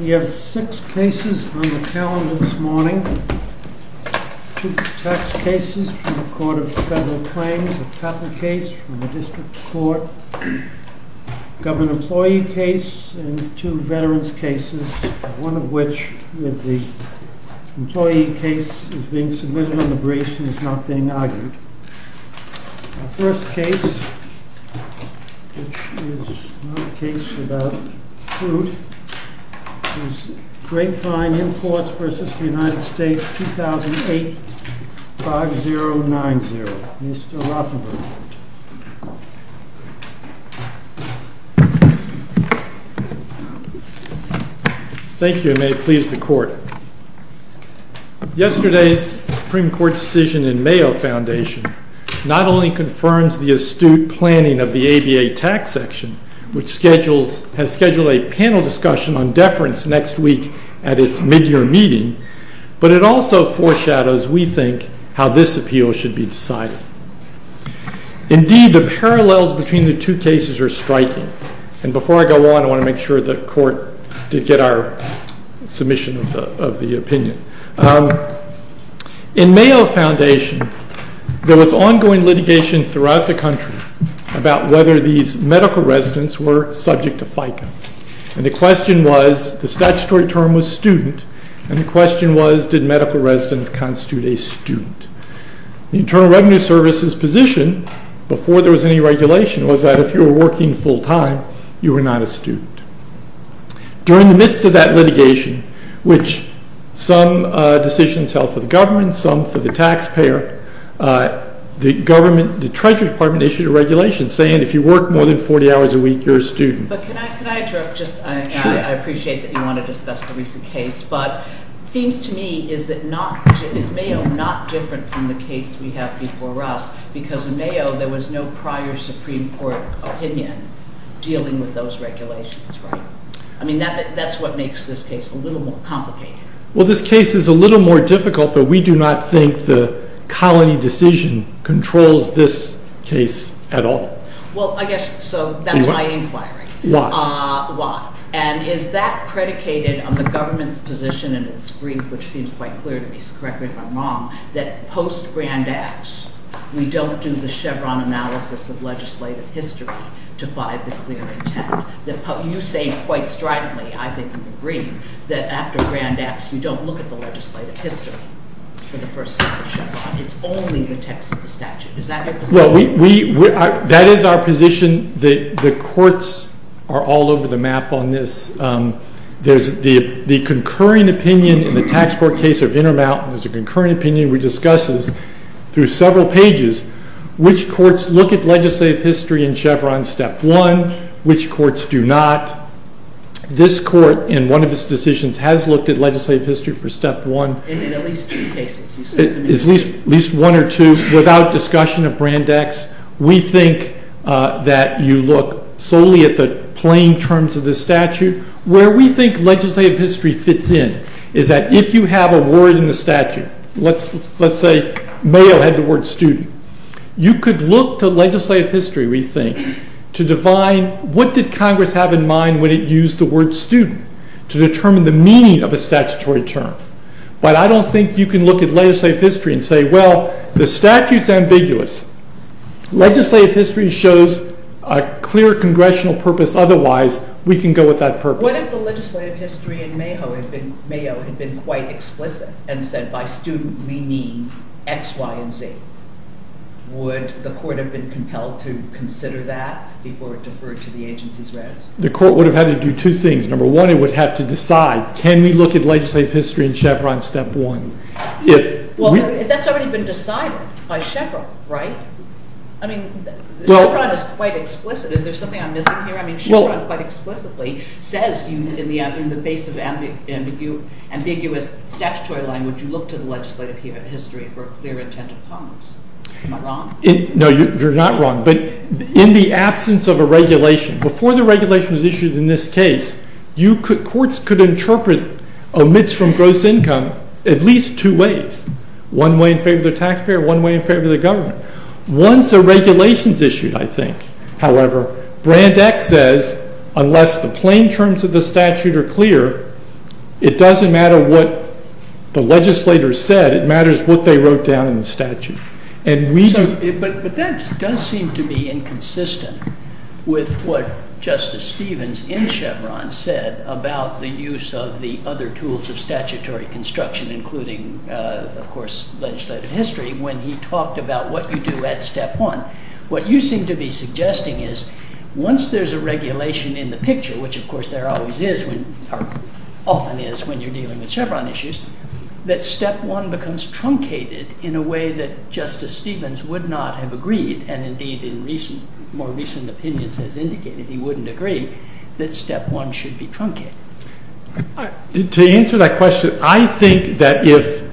We have six cases on the calendar this morning. Two tax cases from the Court of Federal Claims, a patent case from the District Court, a government employee case, and two veterans' cases, one of which with the employee case is being submitted on the briefs and is not being argued. The first case, which is not a case about fruit, is GRAPEVINE IMPORTS v. United States, 2008, 5090. Mr. Rothenberg. Thank you, and may it please the Court. Yesterday's Supreme Court decision in Mayo Foundation not only confirms the astute planning of the ABA tax section, which has scheduled a panel discussion on deference next week at its mid-year meeting, but it also foreshadows, we think, how this appeal should be decided. Indeed, the parallels between the two cases are striking. And before I go on, I want to make sure the Court did get our submission of the opinion. In Mayo Foundation, there was ongoing litigation throughout the country about whether these medical residents were subject to FICA. And the question was, the statutory term was student, and the question was, did medical residents constitute a student? The Internal Revenue Service's position, before there was any regulation, was that if you were working full-time, you were not a student. During the midst of that litigation, which some decisions held for the government, some for the taxpayer, the government, the Treasury Department, issued a regulation saying if you work more than 40 hours a week, you're a student. But can I interrupt? I appreciate that you want to discuss the recent case. But it seems to me, is Mayo not different from the case we have before us? Because in Mayo, there was no prior Supreme Court opinion dealing with those regulations, right? I mean, that's what makes this case a little more complicated. Well, this case is a little more difficult, but we do not think the colony decision controls this case at all. Well, I guess, so that's my inquiry. Why? And is that predicated on the government's position in its brief, which seems quite clear to me, so correct me if I'm wrong, that post-Grand Acts, we don't do the Chevron analysis of legislative history to find the clear intent? You say quite stridently, I think you agree, that after Grand Acts, you don't look at the legislative history for the first step of Chevron. It's only the text of the statute. Is that your position? Well, that is our position. The courts are all over the map on this. There's the concurring opinion in the tax court case of Intermountain, there's a concurring opinion we discuss this through several pages, which courts look at legislative history in Chevron step one, which courts do not. This court, in one of its decisions, has looked at legislative history for step one. And in at least two cases. At least one or two, without discussion of Grand Acts, we think that you look solely at the plain terms of the statute. Where we think legislative history fits in is that if you have a word in the statute, let's say Mayo had the word student, you could look to legislative history, we think, to define what did Congress have in mind when it used the word student to determine the meaning of a statutory term. But I don't think you can look at legislative history and say, well, the statute is ambiguous. Legislative history shows a clear Congressional purpose, otherwise we can go with that purpose. What if the legislative history in Mayo had been quite explicit and said by student we mean X, Y, and Z? Would the court have been compelled to consider that before it deferred to the agencies? The court would have had to do two things. Number one, it would have to decide, can we look at legislative history in Chevron step one? Well, that's already been decided by Chevron, right? I mean, Chevron is quite explicit. Is there something I'm missing here? I mean, Chevron quite explicitly says in the face of ambiguous statutory language, you look to the legislative history for a clear intent of Congress. Am I wrong? No, you're not wrong. But in the absence of a regulation, before the regulation was issued in this case, courts could interpret omits from gross income at least two ways, one way in favor of the taxpayer, one way in favor of the government. Once a regulation is issued, I think, however, Brand X says unless the plain terms of the statute are clear, it doesn't matter what the legislator said, it matters what they wrote down in the statute. But that does seem to be inconsistent with what Justice Stevens in Chevron said about the use of the other tools of statutory construction, including, of course, legislative history, when he talked about what you do at step one. What you seem to be suggesting is once there's a regulation in the picture, which, of course, there always is or often is when you're dealing with Chevron issues, that step one becomes truncated in a way that Justice Stevens would not have agreed and indeed in more recent opinions has indicated he wouldn't agree that step one should be truncated. To answer that question, I think that if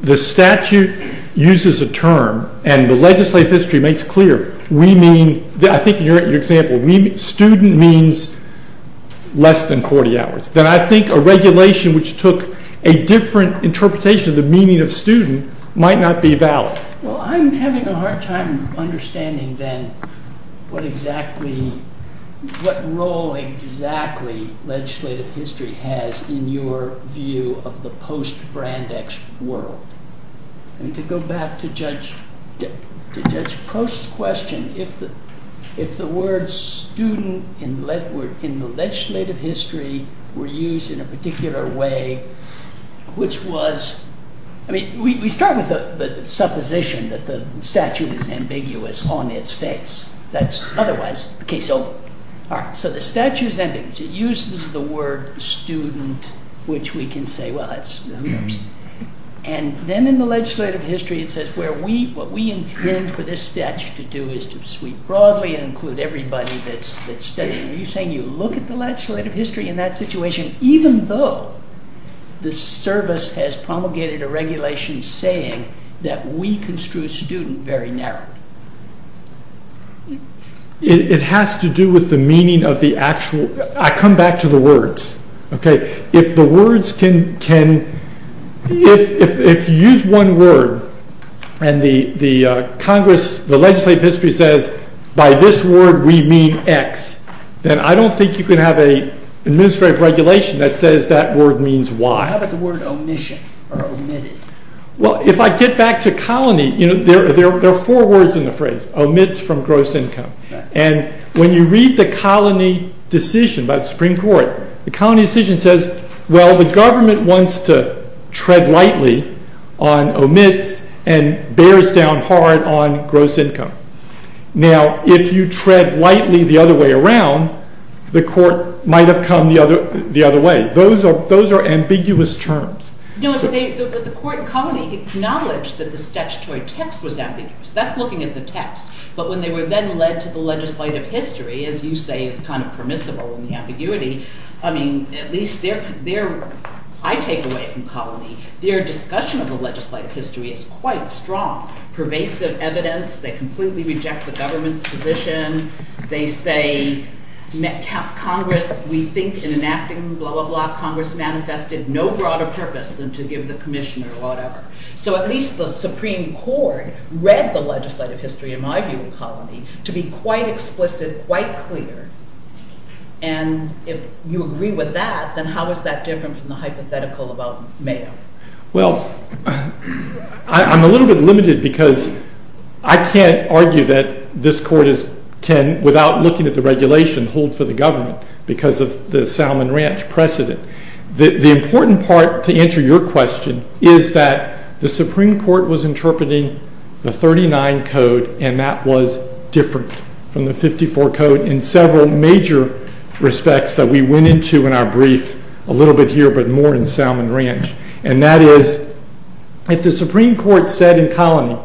the statute uses a term and the legislative history makes clear, we mean, I think in your example, student means less than 40 hours. Then I think a regulation which took a different interpretation of the meaning of student might not be valid. Well, I'm having a hard time understanding then what role exactly legislative history has in your view of the post-Brand X world. To go back to Judge Post's question, if the word student in the legislative history were used in a particular way, which was, I mean, we start with the supposition that the statute is ambiguous on its face. That's otherwise the case over. All right, so the statute is ambiguous. It uses the word student, which we can say, well, who knows. And then in the legislative history it says what we intend for this statute to do is to sweep broadly and include everybody that's studying. Are you saying you look at the legislative history in that situation, even though the service has promulgated a regulation saying that we construe student very narrowly? It has to do with the meaning of the actual. I come back to the words. If you use one word and the legislative history says, by this word we mean X, then I don't think you can have an administrative regulation that says that word means Y. How about the word omission or omitted? Well, if I get back to colony, there are four words in the phrase, omits from gross income. And when you read the colony decision by the Supreme Court, the colony decision says, well, the government wants to tread lightly on omits and bears down hard on gross income. Now, if you tread lightly the other way around, the court might have come the other way. Those are ambiguous terms. No, but the court in colony acknowledged that the statutory text was ambiguous. That's looking at the text. But when they were then led to the legislative history, as you say is kind of permissible in the ambiguity, I mean, at least I take away from colony, their discussion of the legislative history is quite strong. Pervasive evidence, they completely reject the government's position. They say Congress, we think in enacting blah, blah, blah, Congress manifested no broader purpose than to give the commissioner whatever. So at least the Supreme Court read the legislative history in my view in colony to be quite explicit, quite clear. And if you agree with that, then how is that different from the hypothetical about Mayo? Well, I'm a little bit limited because I can't argue that this court can, without looking at the regulation, hold for the government because of the Salmon Ranch precedent. The important part to answer your question is that the Supreme Court was interpreting the 39 code and that was different from the 54 code in several major respects that we went into in our brief, a little bit here but more in Salmon Ranch. And that is if the Supreme Court said in colony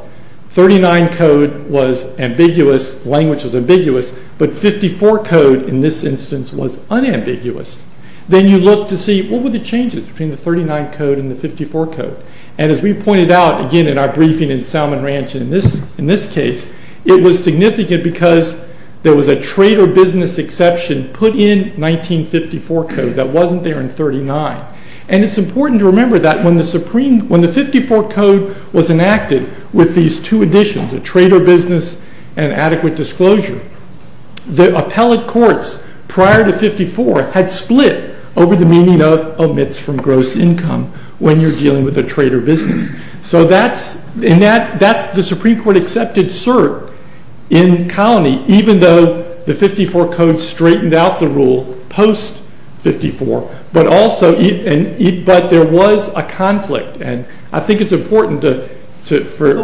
39 code was ambiguous, language was ambiguous, but 54 code in this instance was unambiguous, then you look to see what were the changes between the 39 code and the 54 code. And as we pointed out again in our briefing in Salmon Ranch in this case, it was significant because there was a trader business exception put in 1954 code that wasn't there in 39. And it's important to remember that when the 54 code was enacted with these two additions, a trader business and adequate disclosure, the appellate courts prior to 54 had split over the meaning of omits from gross income when you're dealing with a trader business. So that's the Supreme Court accepted cert in colony even though the 54 code straightened out the rule post 54, but there was a conflict and I think it's important to... So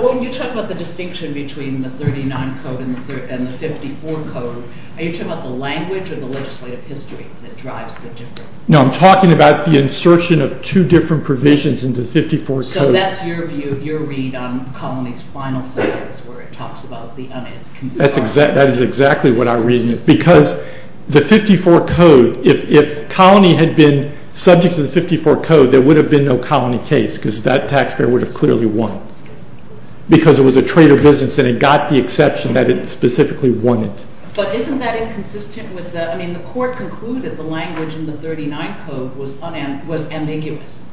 when you talk about the distinction between the 39 code and the 54 code, are you talking about the language or the legislative history that drives the difference? No, I'm talking about the insertion of two different provisions in the 54 code. So that's your view, your read on colonies final sentence where it talks about the... That is exactly what I read because the 54 code, if colony had been subject to the 54 code, there would have been no colony case because that taxpayer would have clearly won because it was a trader business and it got the exception that it specifically wanted. But isn't that inconsistent with the... I mean the court concluded the language in the 39 code was ambiguous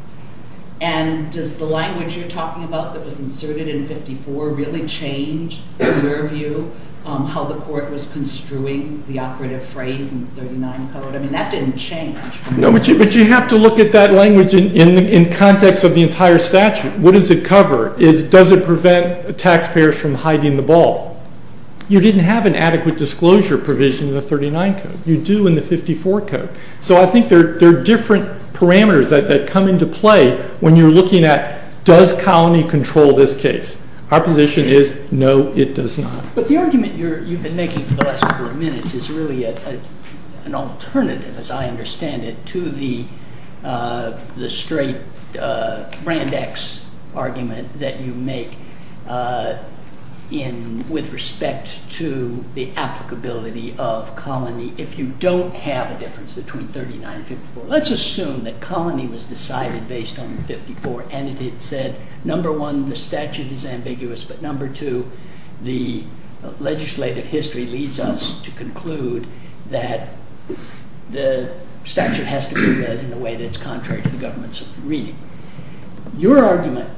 and does the language you're talking about that was inserted in 54 really change your view on how the court was construing the operative phrase in the 39 code? I mean that didn't change. But you have to look at that language in context of the entire statute. What does it cover? Does it prevent taxpayers from hiding the ball? You didn't have an adequate disclosure provision in the 39 code. You do in the 54 code. So I think there are different parameters that come into play when you're looking at does colony control this case? Our position is no, it does not. But the argument you've been making for the last couple of minutes is really an alternative, as I understand it, to the straight brand X argument that you make with respect to the applicability of colony if you don't have a difference between 39 and 54. Let's assume that colony was decided based on 54 and it said, number one, the statute is ambiguous, but number two, the legislative history leads us to conclude that the statute has to be read in a way that's contrary to the government's reading. Your argument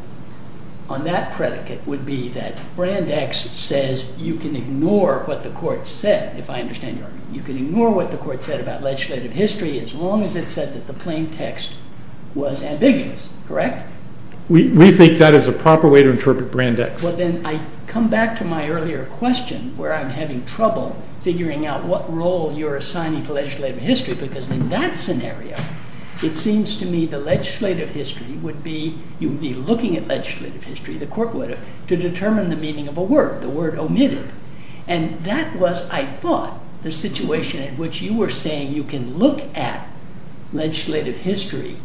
on that predicate would be that brand X says you can ignore what the court said, if I understand your argument. You can ignore what the court said about legislative history as long as it said that the plain text was ambiguous, correct? We think that is a proper way to interpret brand X. Well, then I come back to my earlier question where I'm having trouble figuring out what role you're assigning to legislative history because in that scenario, it seems to me the legislative history would be you would be looking at legislative history, the court would have, to determine the meaning of a word, the word omitted. And that was, I thought, the situation in which you were saying you can look at legislative history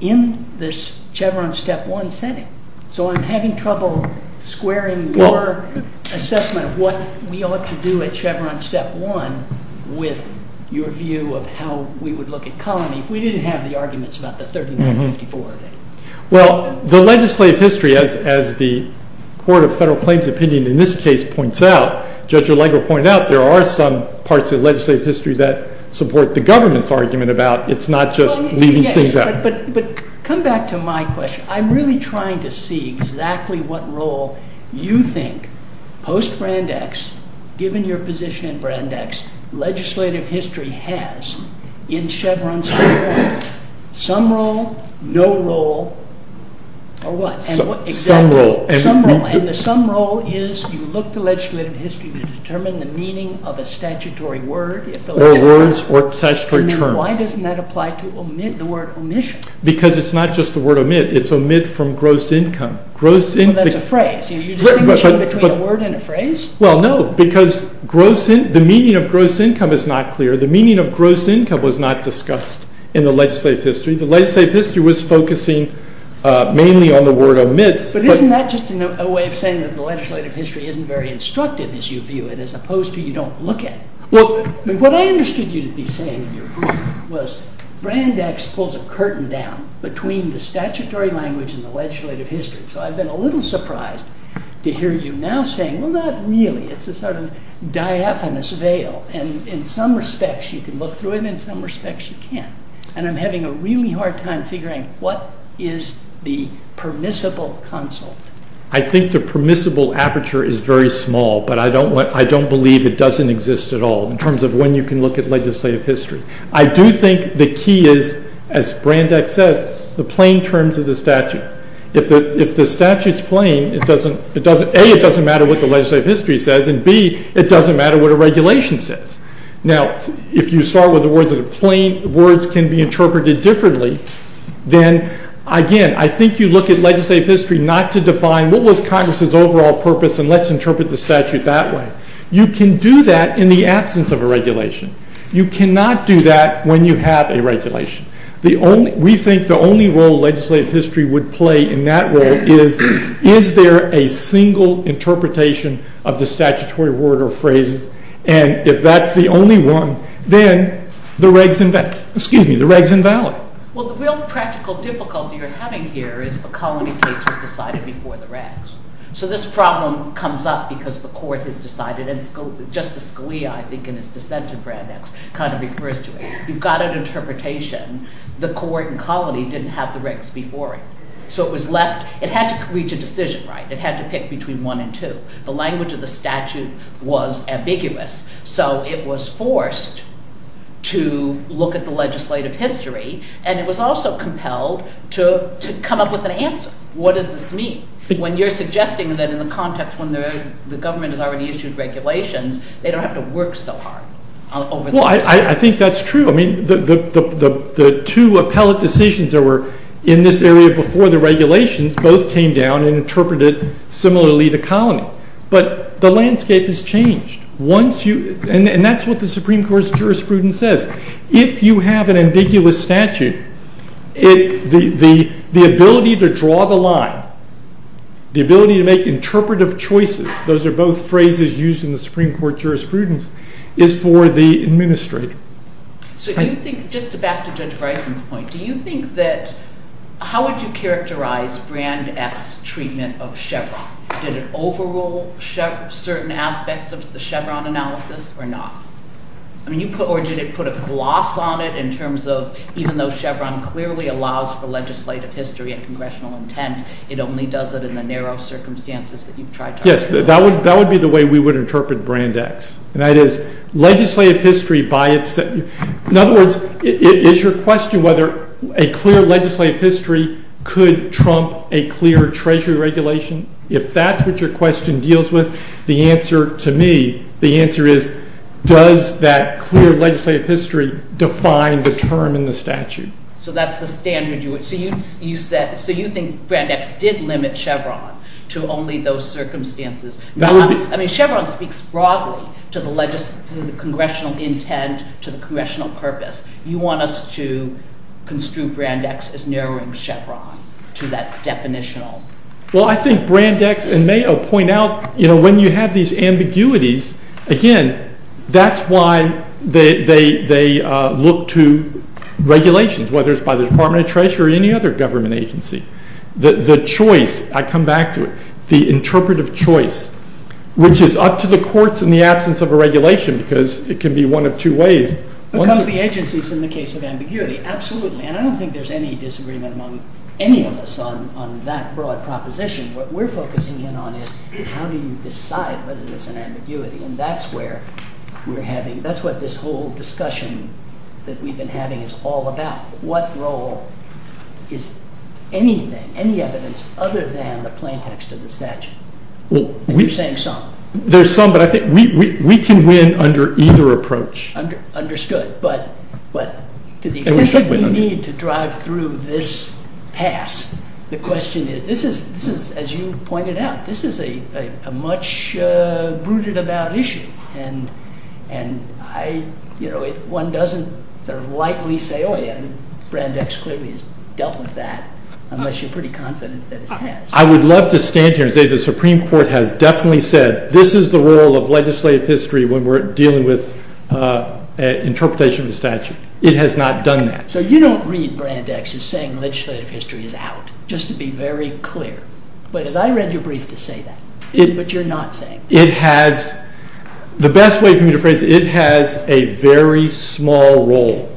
in this Chevron step one setting. So I'm having trouble squaring your assessment of what we ought to do at Chevron step one with your view of how we would look at colony if we didn't have the arguments about the 3154 of it. Well, the legislative history, as the Court of Federal Claims Opinion, in this case, points out, Judge Alengo pointed out, there are some parts of legislative history that support the government's argument about it's not just leaving things out. But come back to my question. I'm really trying to see exactly what role you think post-Brandeis, given your position in Brandeis, legislative history has in Chevron step one. Some role, no role, or what? Some role. And the some role is you look to legislative history to determine the meaning of a statutory word. Or words or statutory terms. Why doesn't that apply to the word omission? Because it's not just the word omit. It's omit from gross income. Well, that's a phrase. You distinguish between a word and a phrase? Well, no, because the meaning of gross income is not clear. The meaning of gross income was not discussed in the legislative history. The legislative history was focusing mainly on the word omits. But isn't that just a way of saying that the legislative history isn't very instructive as you view it as opposed to you don't look at it? What I understood you to be saying in your brief was Brandeis pulls a curtain down between the statutory language and the legislative history. So I've been a little surprised to hear you now saying, well, not really. It's a sort of diaphanous veil. And in some respects you can look through it and in some respects you can't. And I'm having a really hard time figuring what is the permissible consult. I think the permissible aperture is very small, but I don't believe it doesn't exist at all in terms of when you can look at legislative history. I do think the key is, as Brandeis says, the plain terms of the statute. If the statute is plain, A, it doesn't matter what the legislative history says, and B, it doesn't matter what a regulation says. Now, if you start with the words that are plain, words can be interpreted differently, then, again, I think you look at legislative history not to define what was Congress's overall purpose and let's interpret the statute that way. You can do that in the absence of a regulation. You cannot do that when you have a regulation. We think the only role legislative history would play in that role is, is there a single interpretation of the statutory word or phrases, and if that's the only one, then the reg's invalid. Well, the real practical difficulty you're having here is the colony case was decided before the regs. So this problem comes up because the court has decided, and Justice Scalia, I think, in his dissent to Brandeis, kind of refers to it. You've got an interpretation. The court and colony didn't have the regs before it, so it was left. It had to reach a decision, right? It had to pick between one and two. The language of the statute was ambiguous, so it was forced to look at the legislative history, and it was also compelled to come up with an answer. What does this mean? When you're suggesting that in the context when the government has already issued regulations, they don't have to work so hard over the years. Well, I think that's true. I mean, the two appellate decisions that were in this area before the regulations both came down and interpreted similarly to colony, but the landscape has changed. And that's what the Supreme Court's jurisprudence says. If you have an ambiguous statute, the ability to draw the line, the ability to make interpretive choices, those are both phrases used in the Supreme Court jurisprudence, is for the administrator. So do you think, just to back to Judge Bryson's point, do you think that how would you characterize Brandeis' treatment of Chevron? Did it overrule certain aspects of the Chevron analysis or not? Or did it put a gloss on it in terms of even though Chevron clearly allows for legislative history and congressional intent, it only does it in the narrow circumstances that you've tried to argue? Yes, that would be the way we would interpret Brandeis, and that is legislative history by itself. In other words, is your question whether a clear legislative history could trump a clear treasury regulation? If that's what your question deals with, the answer to me, the answer is does that clear legislative history define, determine the statute? So that's the standard you would – so you think Brandeis did limit Chevron to only those circumstances. I mean, Chevron speaks broadly to the congressional intent, to the congressional purpose. You want us to construe Brandeis as narrowing Chevron to that definitional. Well, I think Brandeis and Mayo point out when you have these ambiguities, again, that's why they look to regulations, whether it's by the Department of Treasury or any other government agency. The choice, I come back to it, the interpretive choice, which is up to the courts in the absence of a regulation because it can be one of two ways. Because the agency's in the case of ambiguity, absolutely, and I don't think there's any disagreement among any of us on that broad proposition. What we're focusing in on is how do you decide whether there's an ambiguity, and that's where we're having – that's what this whole discussion that we've been having is all about. What role is anything, any evidence, other than the plain text of the statute? And you're saying some. There's some, but I think we can win under either approach. Understood, but to the extent we need to drive through this pass, the question is – this is, as you pointed out, this is a much-rooted-about issue, and one doesn't sort of lightly say, oh, yeah, Brand X clearly has dealt with that, unless you're pretty confident that it has. I would love to stand here and say the Supreme Court has definitely said this is the role of legislative history when we're dealing with interpretation of the statute. It has not done that. So you don't read Brand X as saying legislative history is out, just to be very clear. But as I read your brief to say that, but you're not saying that. It has – the best way for me to phrase it, it has a very small role,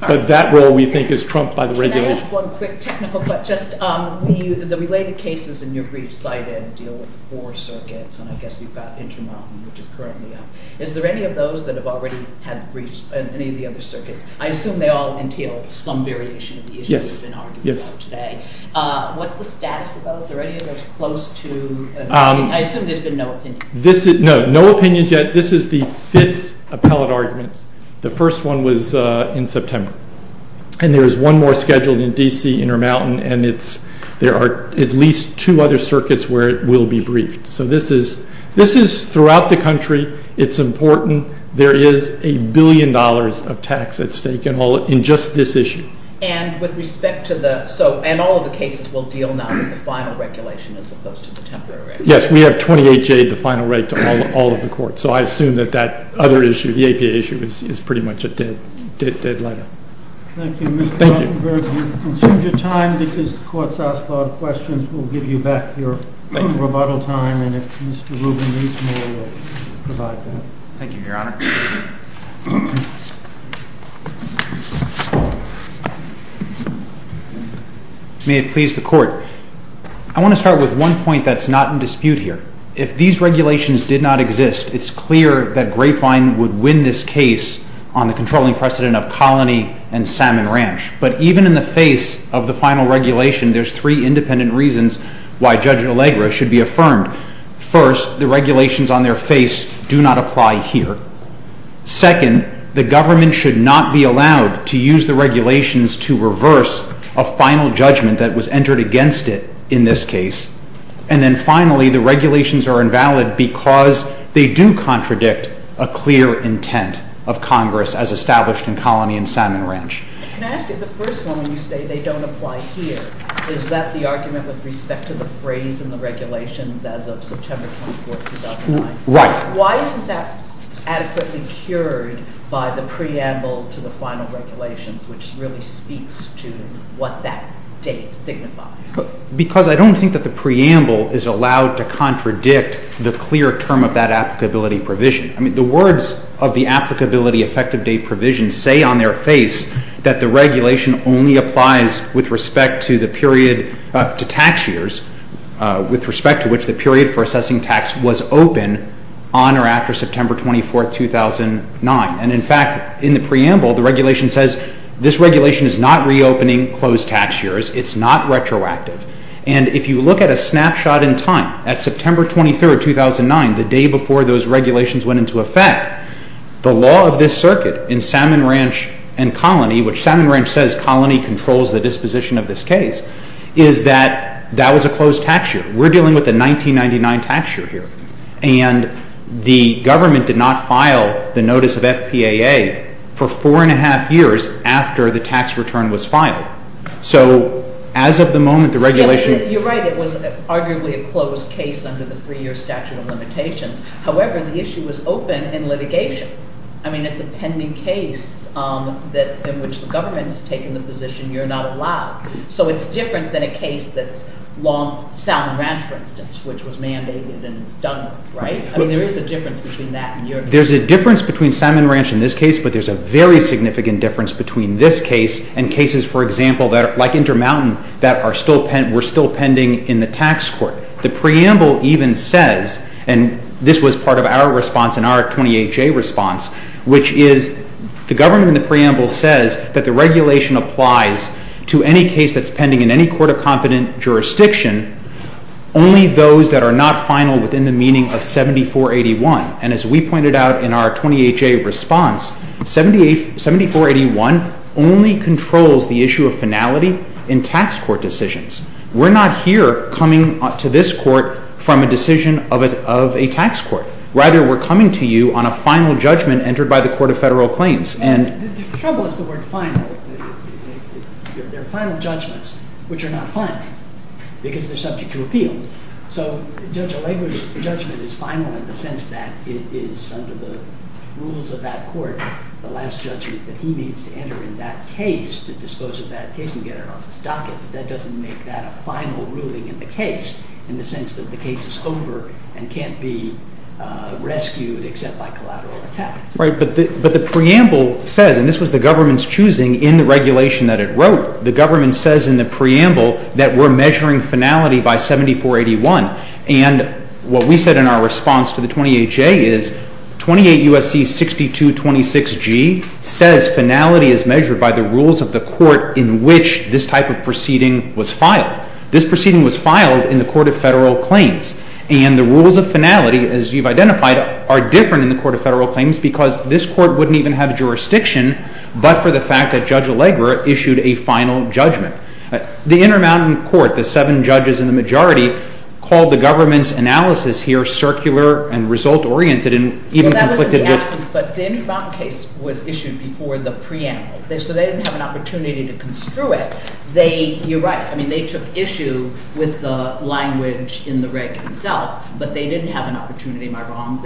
but that role, we think, is trumped by the regulation. Can I ask one quick technical question? The related cases in your brief cited deal with the four circuits, and I guess we've got Intermountain, which is currently up. Is there any of those that have already had briefs in any of the other circuits? I assume they all entail some variation of the issues we've been arguing about today. Yes. What's the status of those? Are any of those close to an opinion? I assume there's been no opinion. No, no opinions yet. This is the fifth appellate argument. The first one was in September. And there is one more scheduled in D.C., Intermountain, and there are at least two other circuits where it will be briefed. So this is throughout the country. It's important. There is a billion dollars of tax at stake in just this issue. And all of the cases will deal now with the final regulation as opposed to the temporary regulation? Yes. We have 28J, the final rate, to all of the courts. So I assume that that other issue, the APA issue, is pretty much a dead letter. Thank you. Mr. Rothenberg, we've consumed your time because the Court's asked a lot of questions. We'll give you back your rebuttal time, and if Mr. Rubin needs more, we'll provide that. Thank you, Your Honor. May it please the Court. I want to start with one point that's not in dispute here. If these regulations did not exist, it's clear that Grapevine would win this case on the controlling precedent of Colony and Salmon Ranch. But even in the face of the final regulation, there's three independent reasons why Judge Allegra should be affirmed. First, the regulations on their face do not apply here. Second, the government should not be allowed to use the regulations to reverse a final judgment that was entered against it in this case. And then finally, the regulations are invalid because they do contradict a clear intent of Congress as established in Colony and Salmon Ranch. Can I ask you, the first one, when you say they don't apply here, is that the argument with respect to the phrase in the regulations as of September 24, 2009? Right. Why isn't that adequately cured by the preamble to the final regulations, which really speaks to what that date signifies? Because I don't think that the preamble is allowed to contradict the clear term of that applicability provision. I mean, the words of the applicability effective date provision say on their face that the regulation only applies with respect to tax years, with respect to which the period for assessing tax was open on or after September 24, 2009. And in fact, in the preamble, the regulation says this regulation is not reopening closed tax years. It's not retroactive. And if you look at a snapshot in time, at September 23, 2009, the day before those regulations went into effect, the law of this circuit in Salmon Ranch and Colony, which Salmon Ranch says Colony controls the disposition of this case, is that that was a closed tax year. We're dealing with a 1999 tax year here. And the government did not file the notice of FPAA for four and a half years after the tax return was filed. So as of the moment, the regulation— You're right. It was arguably a closed case under the three-year statute of limitations. However, the issue was open in litigation. I mean, it's a pending case in which the government has taken the position you're not allowed. So it's different than a case that's long Salmon Ranch, for instance, which was mandated and it's done, right? I mean, there is a difference between that and your case. There's a difference between Salmon Ranch in this case, but there's a very significant difference between this case and cases, for example, like Intermountain, that were still pending in the tax court. The preamble even says, and this was part of our response in our 28-J response, which is the government in the preamble says that the regulation applies to any case that's pending in any court of competent jurisdiction, only those that are not final within the meaning of 7481. And as we pointed out in our 28-J response, 7481 only controls the issue of finality in tax court decisions. We're not here coming to this court from a decision of a tax court. Rather, we're coming to you on a final judgment entered by the Court of Federal Claims. The trouble is the word final. There are final judgments which are not final because they're subject to appeal. So Judge O'Lager's judgment is final in the sense that it is under the rules of that court, the last judgment that he needs to enter in that case to dispose of that case and get it off his docket. That doesn't make that a final ruling in the case in the sense that the case is over and can't be rescued except by collateral attack. But the preamble says, and this was the government's choosing in the regulation that it wrote, the government says in the preamble that we're measuring finality by 7481. And what we said in our response to the 28-J is 28 U.S.C. 6226G says finality is measured by the rules of the court in which this type of proceeding was filed. This proceeding was filed in the Court of Federal Claims. And the rules of finality, as you've identified, are different in the Court of Federal Claims because this court wouldn't even have jurisdiction but for the fact that Judge O'Lager issued a final judgment. The Intermountain Court, the seven judges in the majority, called the government's analysis here circular and result-oriented and even conflicted with— You're right. I mean, they took issue with the language in the reg itself, but they didn't have an opportunity—am I wrong?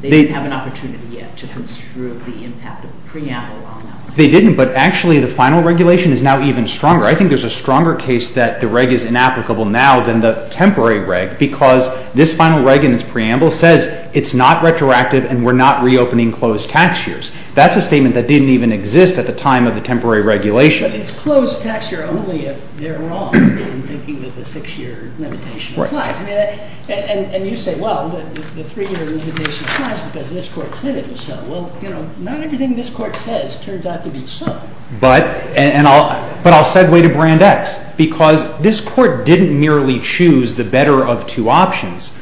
They didn't have an opportunity yet to construe the impact of the preamble on them. They didn't, but actually the final regulation is now even stronger. I think there's a stronger case that the reg is inapplicable now than the temporary reg because this final reg in its preamble says it's not retroactive and we're not reopening closed tax years. That's a statement that didn't even exist at the time of the temporary regulation. But it's closed tax year only if they're wrong in thinking that the six-year limitation applies. Right. And you say, well, the three-year limitation applies because this court said it was so. Well, you know, not everything this court says turns out to be so. But I'll segue to Brand X because this court didn't merely choose the better of two options,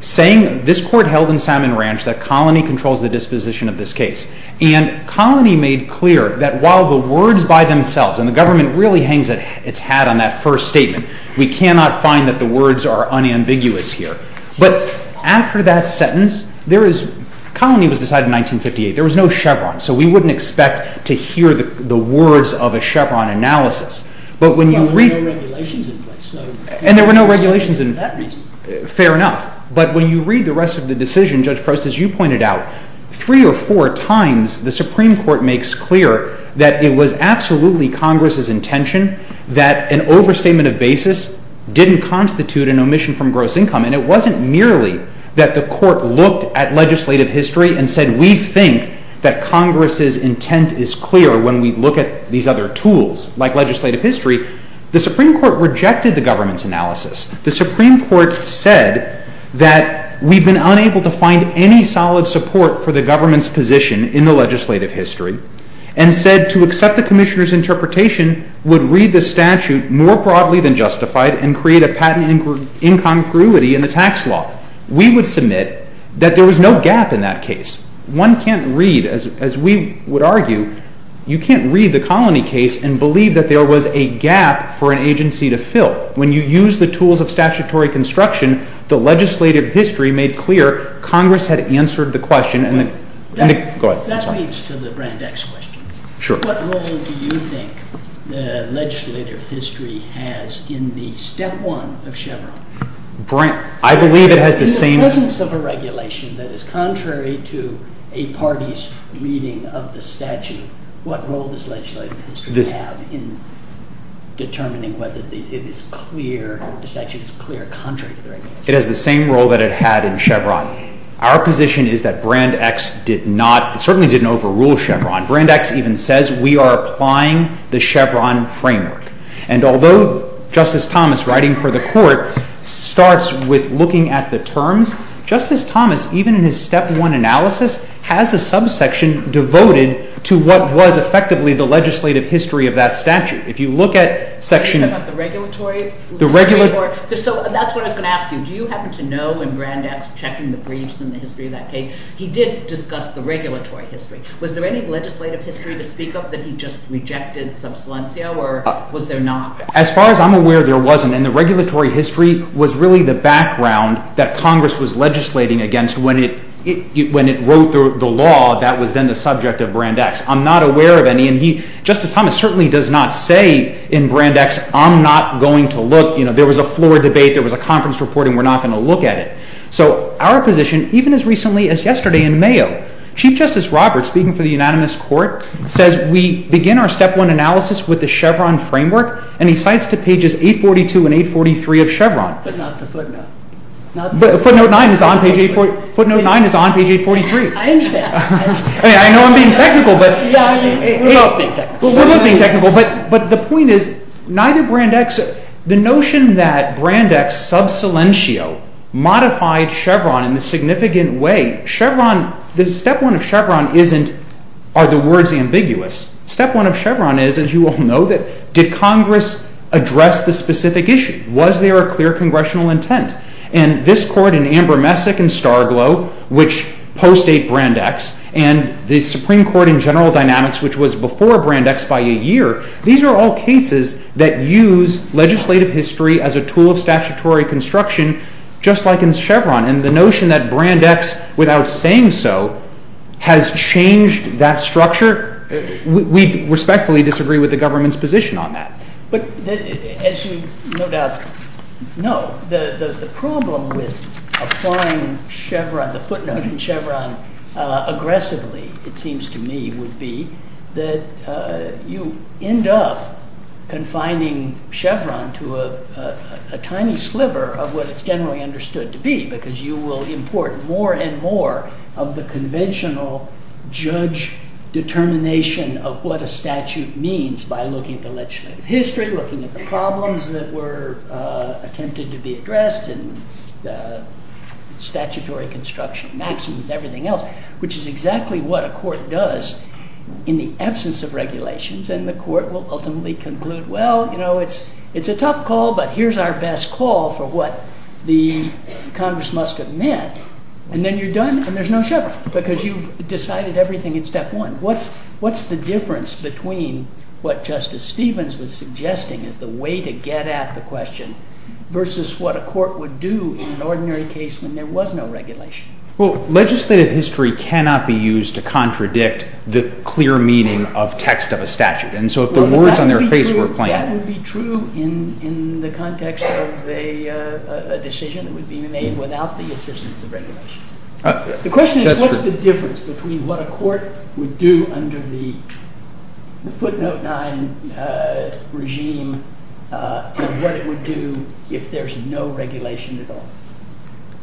saying this court held in Salmon Ranch that colony controls the disposition of this case. And colony made clear that while the words by themselves—and the government really hangs its hat on that first statement. We cannot find that the words are unambiguous here. But after that sentence, there is—colony was decided in 1958. There was no Chevron, so we wouldn't expect to hear the words of a Chevron analysis. But when you read— Well, there were no regulations in place, so— And there were no regulations in— —for that reason. Fair enough. But when you read the rest of the decision, Judge Proust, as you pointed out, three or four times the Supreme Court makes clear that it was absolutely Congress's intention that an overstatement of basis didn't constitute an omission from gross income. And it wasn't merely that the court looked at legislative history and said, we think that Congress's intent is clear when we look at these other tools, like legislative history. The Supreme Court rejected the government's analysis. The Supreme Court said that we've been unable to find any solid support for the government's position in the legislative history and said to accept the commissioner's interpretation would read the statute more broadly than justified and create a patent incongruity in the tax law. We would submit that there was no gap in that case. One can't read, as we would argue, you can't read the colony case and believe that there was a gap for an agency to fill. But when you use the tools of statutory construction, the legislative history made clear Congress had answered the question. Go ahead. That leads to the Brand X question. Sure. What role do you think legislative history has in the step one of Chevron? I believe it has the same... In the presence of a regulation that is contrary to a party's reading of the statute, what role does legislative history have in determining whether the statute is clear or contrary to the regulation? It has the same role that it had in Chevron. Our position is that Brand X certainly didn't overrule Chevron. Brand X even says we are applying the Chevron framework. And although Justice Thomas, writing for the court, starts with looking at the terms, Justice Thomas, even in his step one analysis, has a subsection devoted to what was effectively the legislative history of that statute. If you look at section... Are you talking about the regulatory history? The regulatory... So that's what I was going to ask you. Do you happen to know in Brand X, checking the briefs and the history of that case, he did discuss the regulatory history. Was there any legislative history to speak of that he just rejected sub silencio or was there not? As far as I'm aware, there wasn't. And the regulatory history was really the background that Congress was legislating against when it wrote the law that was then the subject of Brand X. I'm not aware of any. And Justice Thomas certainly does not say in Brand X, I'm not going to look. There was a floor debate. There was a conference report, and we're not going to look at it. So our position, even as recently as yesterday in Mayo, Chief Justice Roberts, speaking for the unanimous court, says we begin our step one analysis with the Chevron framework, and he cites to pages 842 and 843 of Chevron. But not the footnote. Footnote 9 is on page 843. I understand. I know I'm being technical, but... We're both being technical. We're both being technical. But the point is, neither Brand X... The notion that Brand X sub silentio modified Chevron in a significant way... The step one of Chevron isn't, are the words ambiguous? Step one of Chevron is, as you all know, did Congress address the specific issue? Was there a clear congressional intent? And this court in Amber Messick and Star Glow, which post-8 Brand X, and the Supreme Court in General Dynamics, which was before Brand X by a year, these are all cases that use legislative history as a tool of statutory construction, just like in Chevron. And the notion that Brand X, without saying so, has changed that structure, we respectfully disagree with the government's position on that. But as you no doubt know, the problem with applying Chevron, the footnote in Chevron, aggressively, it seems to me, would be that you end up confining Chevron to a tiny sliver of what it's generally understood to be, because you will import more and more of the conventional judge determination of what a statute means by looking at the legislative history, looking at the problems that were attempted to be addressed, and statutory construction maxims, everything else, which is exactly what a court does in the absence of regulations. And the court will ultimately conclude, well, it's a tough call, but here's our best call for what the Congress must have meant. And then you're done, and there's no Chevron, because you've decided everything in step one. What's the difference between what Justice Stevens was suggesting as the way to get at the question, versus what a court would do in an ordinary case when there was no regulation? Well, legislative history cannot be used to contradict the clear meaning of text of a statute. And so if the words on their face were plain… That would be true in the context of a decision that would be made without the assistance of regulation. That's true. The question is, what's the difference between what a court would do under the footnote 9 regime and what it would do if there's no regulation at all?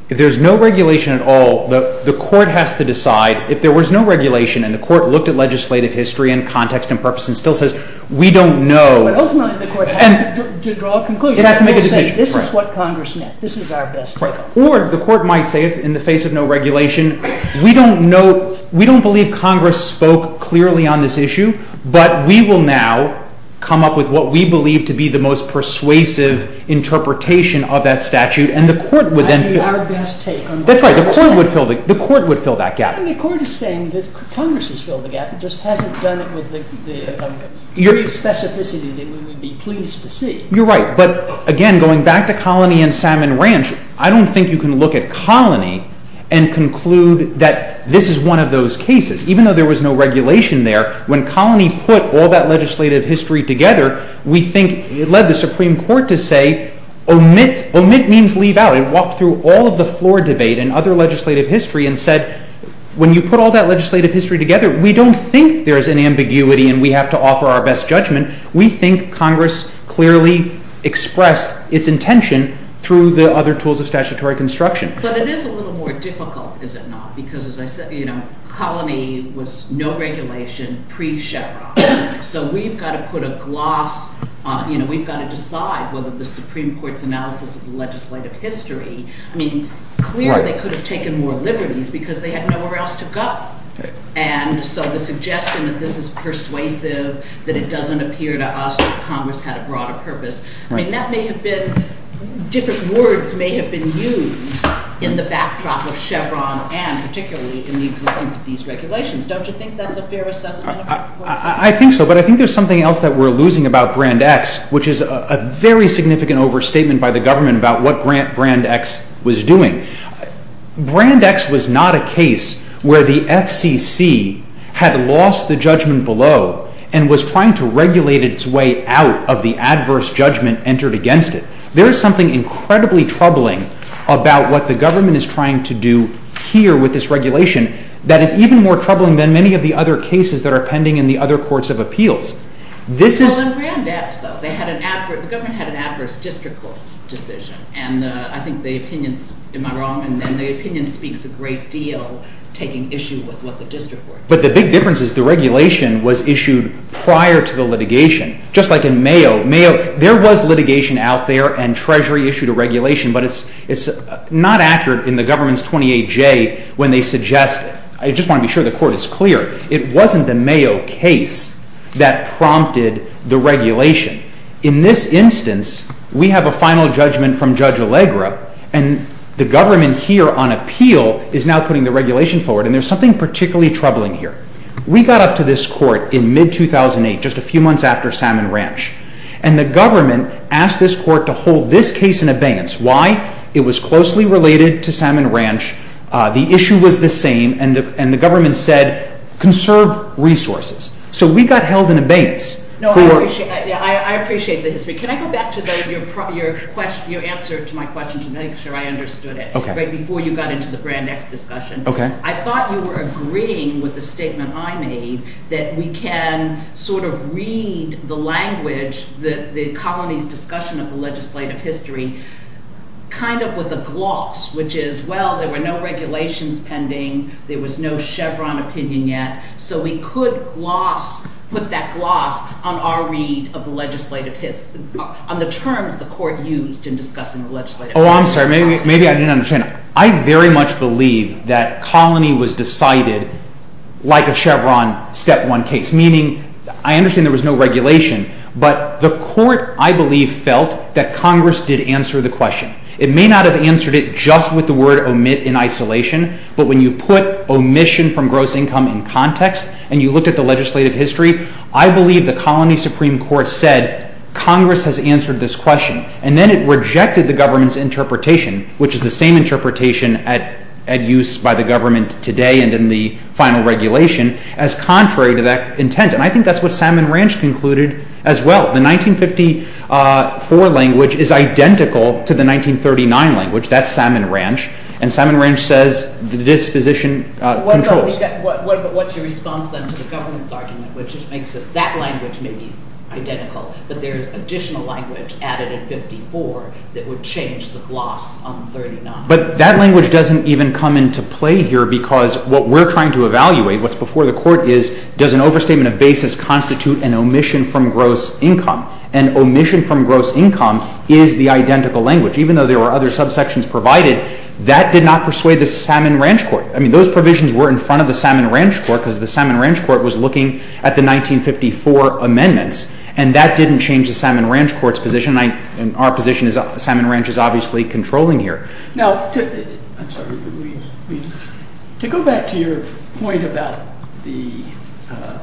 If there's no regulation at all, the court has to decide. If there was no regulation and the court looked at legislative history and context and purpose and still says, we don't know… Ultimately, the court has to draw a conclusion. It has to make a decision. This is what Congress meant. This is our best call. Or the court might say, in the face of no regulation, we don't believe Congress spoke clearly on this issue, but we will now come up with what we believe to be the most persuasive interpretation of that statute. That would be our best take. That's right. The court would fill that gap. The court is saying that Congress has filled the gap. It just hasn't done it with the specificity that we would be pleased to see. You're right. But again, going back to Colony and Salmon Ranch, I don't think you can look at Colony and conclude that this is one of those cases. Even though there was no regulation there, when Colony put all that legislative history together, we think it led the Supreme Court to say, omit means leave out. It walked through all of the floor debate and other legislative history and said, when you put all that legislative history together, we don't think there's an ambiguity and we have to offer our best judgment. We think Congress clearly expressed its intention through the other tools of statutory construction. But it is a little more difficult, is it not? Because, as I said, Colony was no regulation pre-Sherlock. So we've got to put a gloss on it. We've got to decide whether the Supreme Court's analysis of the legislative history, I mean, clearly they could have taken more liberties because they had nowhere else to go. And so the suggestion that this is persuasive, that it doesn't appear to us that Congress had a broader purpose, I mean, that may have been – different words may have been used in the backdrop of Chevron and particularly in the existence of these regulations. Don't you think that's a fair assessment? I think so. But I think there's something else that we're losing about Brand X, which is a very significant overstatement by the government about what Brand X was doing. Brand X was not a case where the FCC had lost the judgment below and was trying to regulate its way out of the adverse judgment entered against it. There is something incredibly troubling about what the government is trying to do here with this regulation that is even more troubling than many of the other cases that are pending in the other courts of appeals. Well, in Brand X, though, the government had an adverse districtal decision, and I think the opinion – am I wrong? And then the opinion speaks a great deal taking issue with what the district was. But the big difference is the regulation was issued prior to the litigation. Just like in Mayo, there was litigation out there and Treasury issued a regulation, but it's not accurate in the government's 28-J when they suggest it. I just want to be sure the court is clear. It wasn't the Mayo case that prompted the regulation. In this instance, we have a final judgment from Judge Allegra, and the government here on appeal is now putting the regulation forward, and there's something particularly troubling here. We got up to this court in mid-2008, just a few months after Salmon Ranch, and the government asked this court to hold this case in abeyance. Why? It was closely related to Salmon Ranch. The issue was the same, and the government said conserve resources. So we got held in abeyance. I appreciate the history. Can I go back to your answer to my question to make sure I understood it, right before you got into the Brand X discussion? Okay. I thought you were agreeing with the statement I made that we can sort of read the language, the colony's discussion of the legislative history kind of with a gloss, which is, well, there were no regulations pending. There was no Chevron opinion yet. So we could gloss, put that gloss on our read of the legislative history, on the terms the court used in discussing the legislative history. Oh, I'm sorry. Maybe I didn't understand. I very much believe that colony was decided like a Chevron step one case, meaning I understand there was no regulation, but the court, I believe, felt that Congress did answer the question. It may not have answered it just with the word omit in isolation, but when you put omission from gross income in context and you look at the legislative history, I believe the colony Supreme Court said Congress has answered this question, and then it rejected the government's interpretation, which is the same interpretation at use by the government today and in the final regulation, as contrary to that intent. And I think that's what Salmon Ranch concluded as well. The 1954 language is identical to the 1939 language. That's Salmon Ranch. And Salmon Ranch says the disposition controls. What's your response, then, to the government's argument, which makes it that language may be identical, but there's additional language added in 54 that would change the gloss on 39. But that language doesn't even come into play here because what we're trying to evaluate, what's before the court, is does an overstatement of basis constitute an omission from gross income? And omission from gross income is the identical language. Even though there were other subsections provided, that did not persuade the Salmon Ranch Court. I mean, those provisions were in front of the Salmon Ranch Court because the Salmon Ranch Court was looking at the 1954 amendments, and that didn't change the Salmon Ranch Court's position and our position is Salmon Ranch is obviously controlling here. Now, to go back to your point about the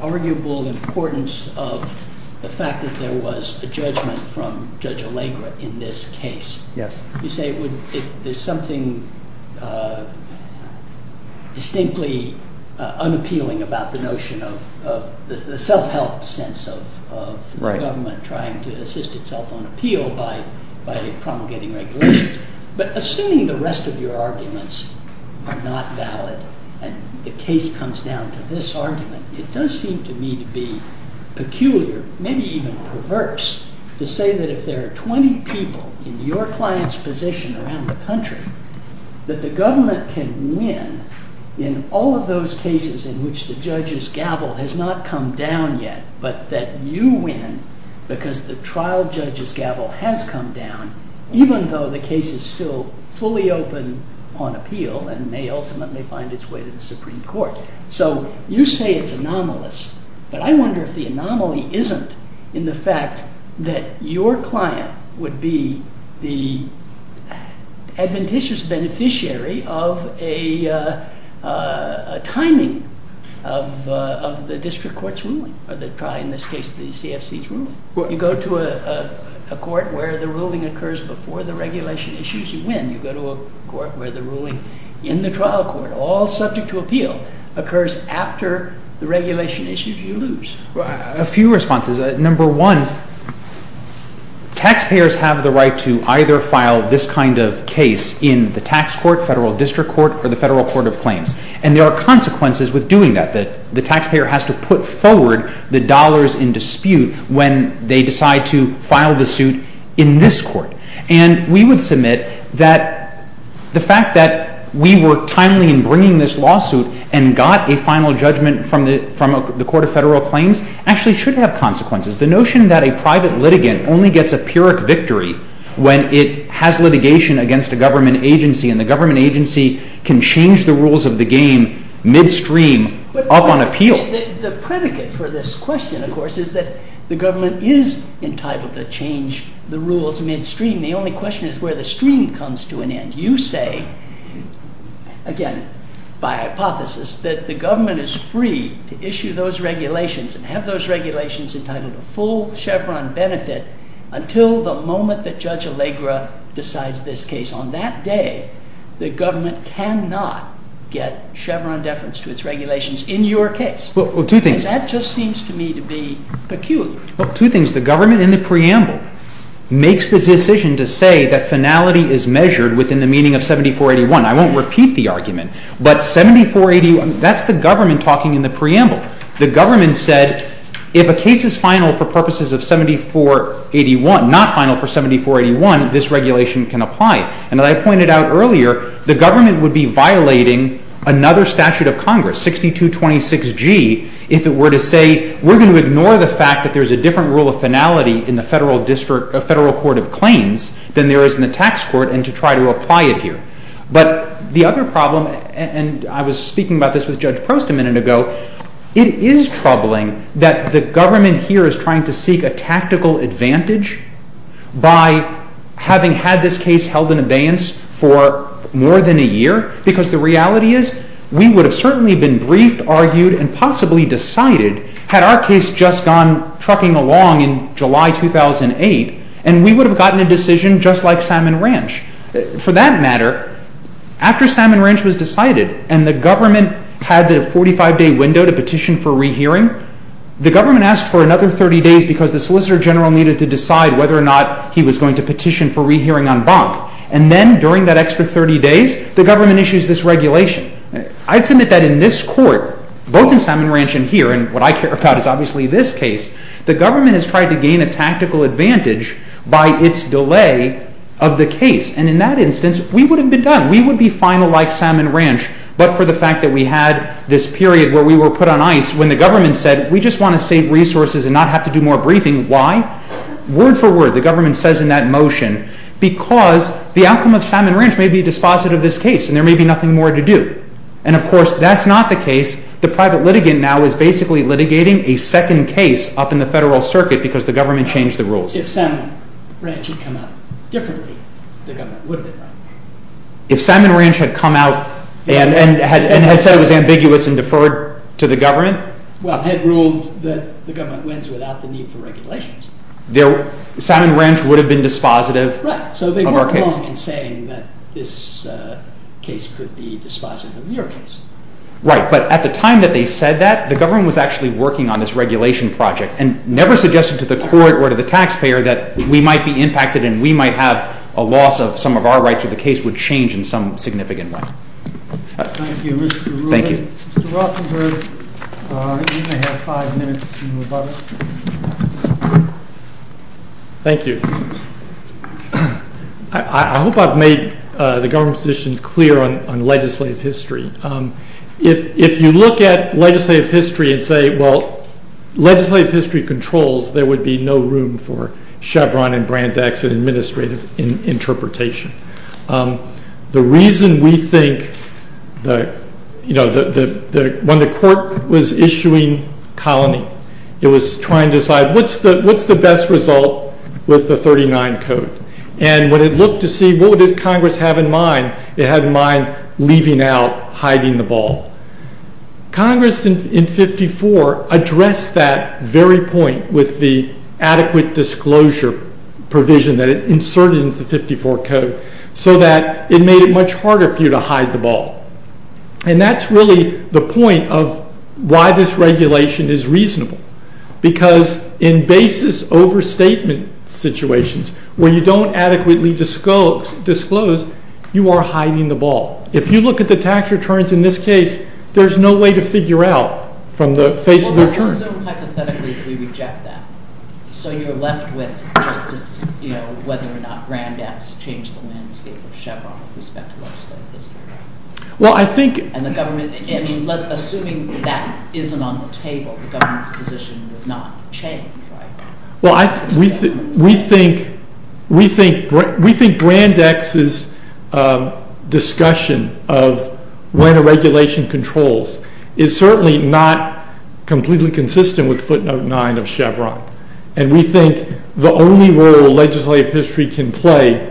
arguable importance of the fact that there was a judgment from Judge Allegra in this case, you say there's something distinctly unappealing about the notion of the self-help sense of the government trying to assist itself on appeal by promulgating regulations. But assuming the rest of your arguments are not valid and the case comes down to this argument, it does seem to me to be peculiar, maybe even perverse, to say that if there are 20 people in your client's position around the country, that the government can win in all of those cases in which the judge's gavel has not come down yet, but that you win because the trial judge's gavel has come down, even though the case is still fully open on appeal and may ultimately find its way to the Supreme Court. So you say it's anomalous, but I wonder if the anomaly isn't in the fact that your client would be the adventitious beneficiary of a timing of the district court's ruling, or in this case, the CFC's ruling. You go to a court where the ruling occurs before the regulation issues, you win. You go to a court where the ruling in the trial court, all subject to appeal, occurs after the regulation issues, you lose. A few responses. Number one, taxpayers have the right to either file this kind of case in the tax court, federal district court, or the federal court of claims. And there are consequences with doing that. The taxpayer has to put forward the dollars in dispute when they decide to file the suit in this court. And we would submit that the fact that we were timely in bringing this lawsuit and got a final judgment from the court of federal claims actually should have consequences. The notion that a private litigant only gets a pyrrhic victory when it has litigation against a government agency and the government agency can change the rules of the game midstream up on appeal. The predicate for this question, of course, is that the government is entitled to change the rules midstream. The only question is where the stream comes to an end. You say, again, by hypothesis, that the government is free to issue those regulations and have those regulations entitled to full Chevron benefit until the moment that Judge Allegra decides this case. On that day, the government cannot get Chevron deference to its regulations in your case. Well, two things. And that just seems to me to be peculiar. Well, two things. The government in the preamble makes the decision to say that finality is measured within the meaning of 7481. I won't repeat the argument, but 7481, that's the government talking in the preamble. The government said if a case is final for purposes of 7481, not final for 7481, this regulation can apply. And as I pointed out earlier, the government would be violating another statute of Congress, 6226G, if it were to say we're going to ignore the fact that there's a different rule of finality in the federal court of claims than there is in the tax court and to try to apply it here. But the other problem, and I was speaking about this with Judge Prost a minute ago, it is troubling that the government here is trying to seek a tactical advantage by having had this case held in abeyance for more than a year, because the reality is we would have certainly been briefed, argued, and possibly decided had our case just gone trucking along in July 2008, and we would have gotten a decision just like Salmon Ranch. For that matter, after Salmon Ranch was decided and the government had the 45-day window to petition for rehearing, the government asked for another 30 days because the Solicitor General needed to decide whether or not he was going to petition for rehearing en banc. And then, during that extra 30 days, the government issues this regulation. I'd submit that in this court, both in Salmon Ranch and here, and what I care about is obviously this case, the government has tried to gain a tactical advantage by its delay of the case. And in that instance, we would have been done. We would be final like Salmon Ranch, but for the fact that we had this period where we were put on ice, when the government said, we just want to save resources and not have to do more briefing, why? Word for word, the government says in that motion, because the outcome of Salmon Ranch may be a dispositive of this case, and there may be nothing more to do. And of course, that's not the case. The private litigant now is basically litigating a second case up in the federal circuit because the government changed the rules. If Salmon Ranch had come out differently, the government would have been done. If Salmon Ranch had come out and had said it was ambiguous and deferred to the government? Well, they had ruled that the government wins without the need for regulations. Salmon Ranch would have been dispositive of our case. Right, so they weren't wrong in saying that this case could be dispositive of your case. Right, but at the time that they said that, the government was actually working on this regulation project and never suggested to the court or to the taxpayer that we might be impacted and we might have a loss of some of our rights or the case would change in some significant way. Thank you, Mr. Ruehl. Thank you. Mr. Rothenberg, you may have five minutes to move on. Thank you. I hope I've made the government's position clear on legislative history. If you look at legislative history and say, well, legislative history controls, there would be no room for Chevron and Brandeis and administrative interpretation. The reason we think, you know, when the court was issuing colony, it was trying to decide what's the best result with the 39 Code? And when it looked to see what would Congress have in mind, it had in mind leaving out, hiding the ball. Congress in 54 addressed that very point with the adequate disclosure provision that it inserted into the 54 Code so that it made it much harder for you to hide the ball. And that's really the point of why this regulation is reasonable because in basis overstatement situations where you don't adequately disclose, you are hiding the ball. If you look at the tax returns in this case, there's no way to figure out from the face of the return. Well, let's assume hypothetically that we reject that. So you're left with just, you know, whether or not Brandeis changed the landscape of Chevron with respect to legislative history. Well, I think. And the government, I mean, assuming that isn't on the table, the government's position would not change, right? Well, we think Brandeis' discussion of when a regulation controls is certainly not completely consistent with footnote 9 of Chevron. And we think the only role legislative history can play,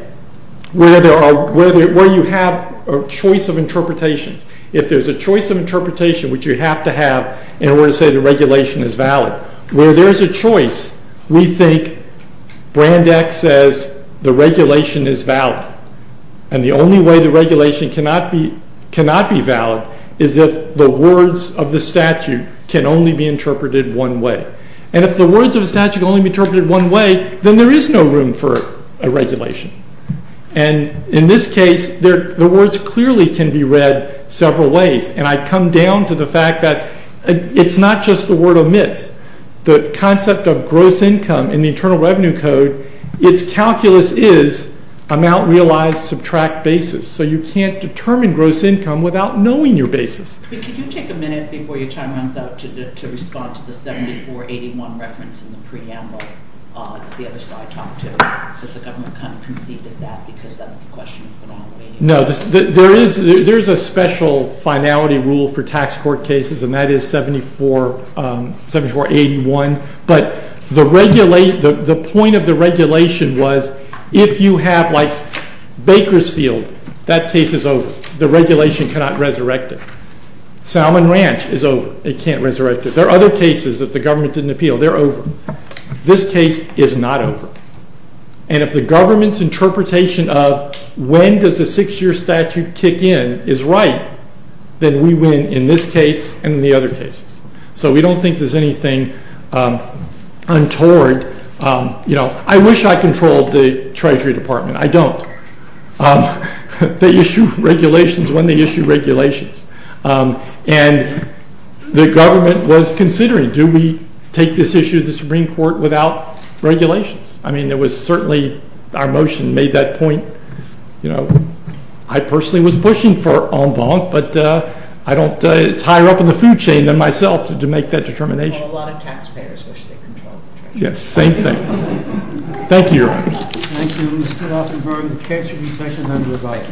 where you have a choice of interpretations, if there's a choice of interpretation which you have to have in order to say the regulation is valid, where there's a choice, we think Brandeis says the regulation is valid. And the only way the regulation cannot be valid is if the words of the statute can only be interpreted one way. And if the words of the statute can only be interpreted one way, then there is no room for a regulation. And in this case, the words clearly can be read several ways. And I come down to the fact that it's not just the word omits. The concept of gross income in the Internal Revenue Code, its calculus is amount realized, subtract basis. So you can't determine gross income without knowing your basis. Could you take a minute before your time runs out to respond to the 7481 reference in the preamble that the other side talked to? So the government kind of conceived of that because that's the question. No, there is a special finality rule for tax court cases, and that is 7481. But the point of the regulation was if you have, like, Bakersfield, that case is over. The regulation cannot resurrect it. Salmon Ranch is over. It can't resurrect it. There are other cases that the government didn't appeal. They're over. This case is not over. And if the government's interpretation of when does a six-year statute kick in is right, then we win in this case and in the other cases. So we don't think there's anything untoward. I wish I controlled the Treasury Department. I don't. They issue regulations when they issue regulations. And the government was considering, do we take this issue to the Supreme Court without regulations? I mean, it was certainly our motion made that point. You know, I personally was pushing for en banc, but it's higher up in the food chain than myself to make that determination. Well, a lot of taxpayers wish they controlled the Treasury. Yes, same thing. Thank you, Your Honors. Thank you, Mr. Offenburg. The case will be presented under the right.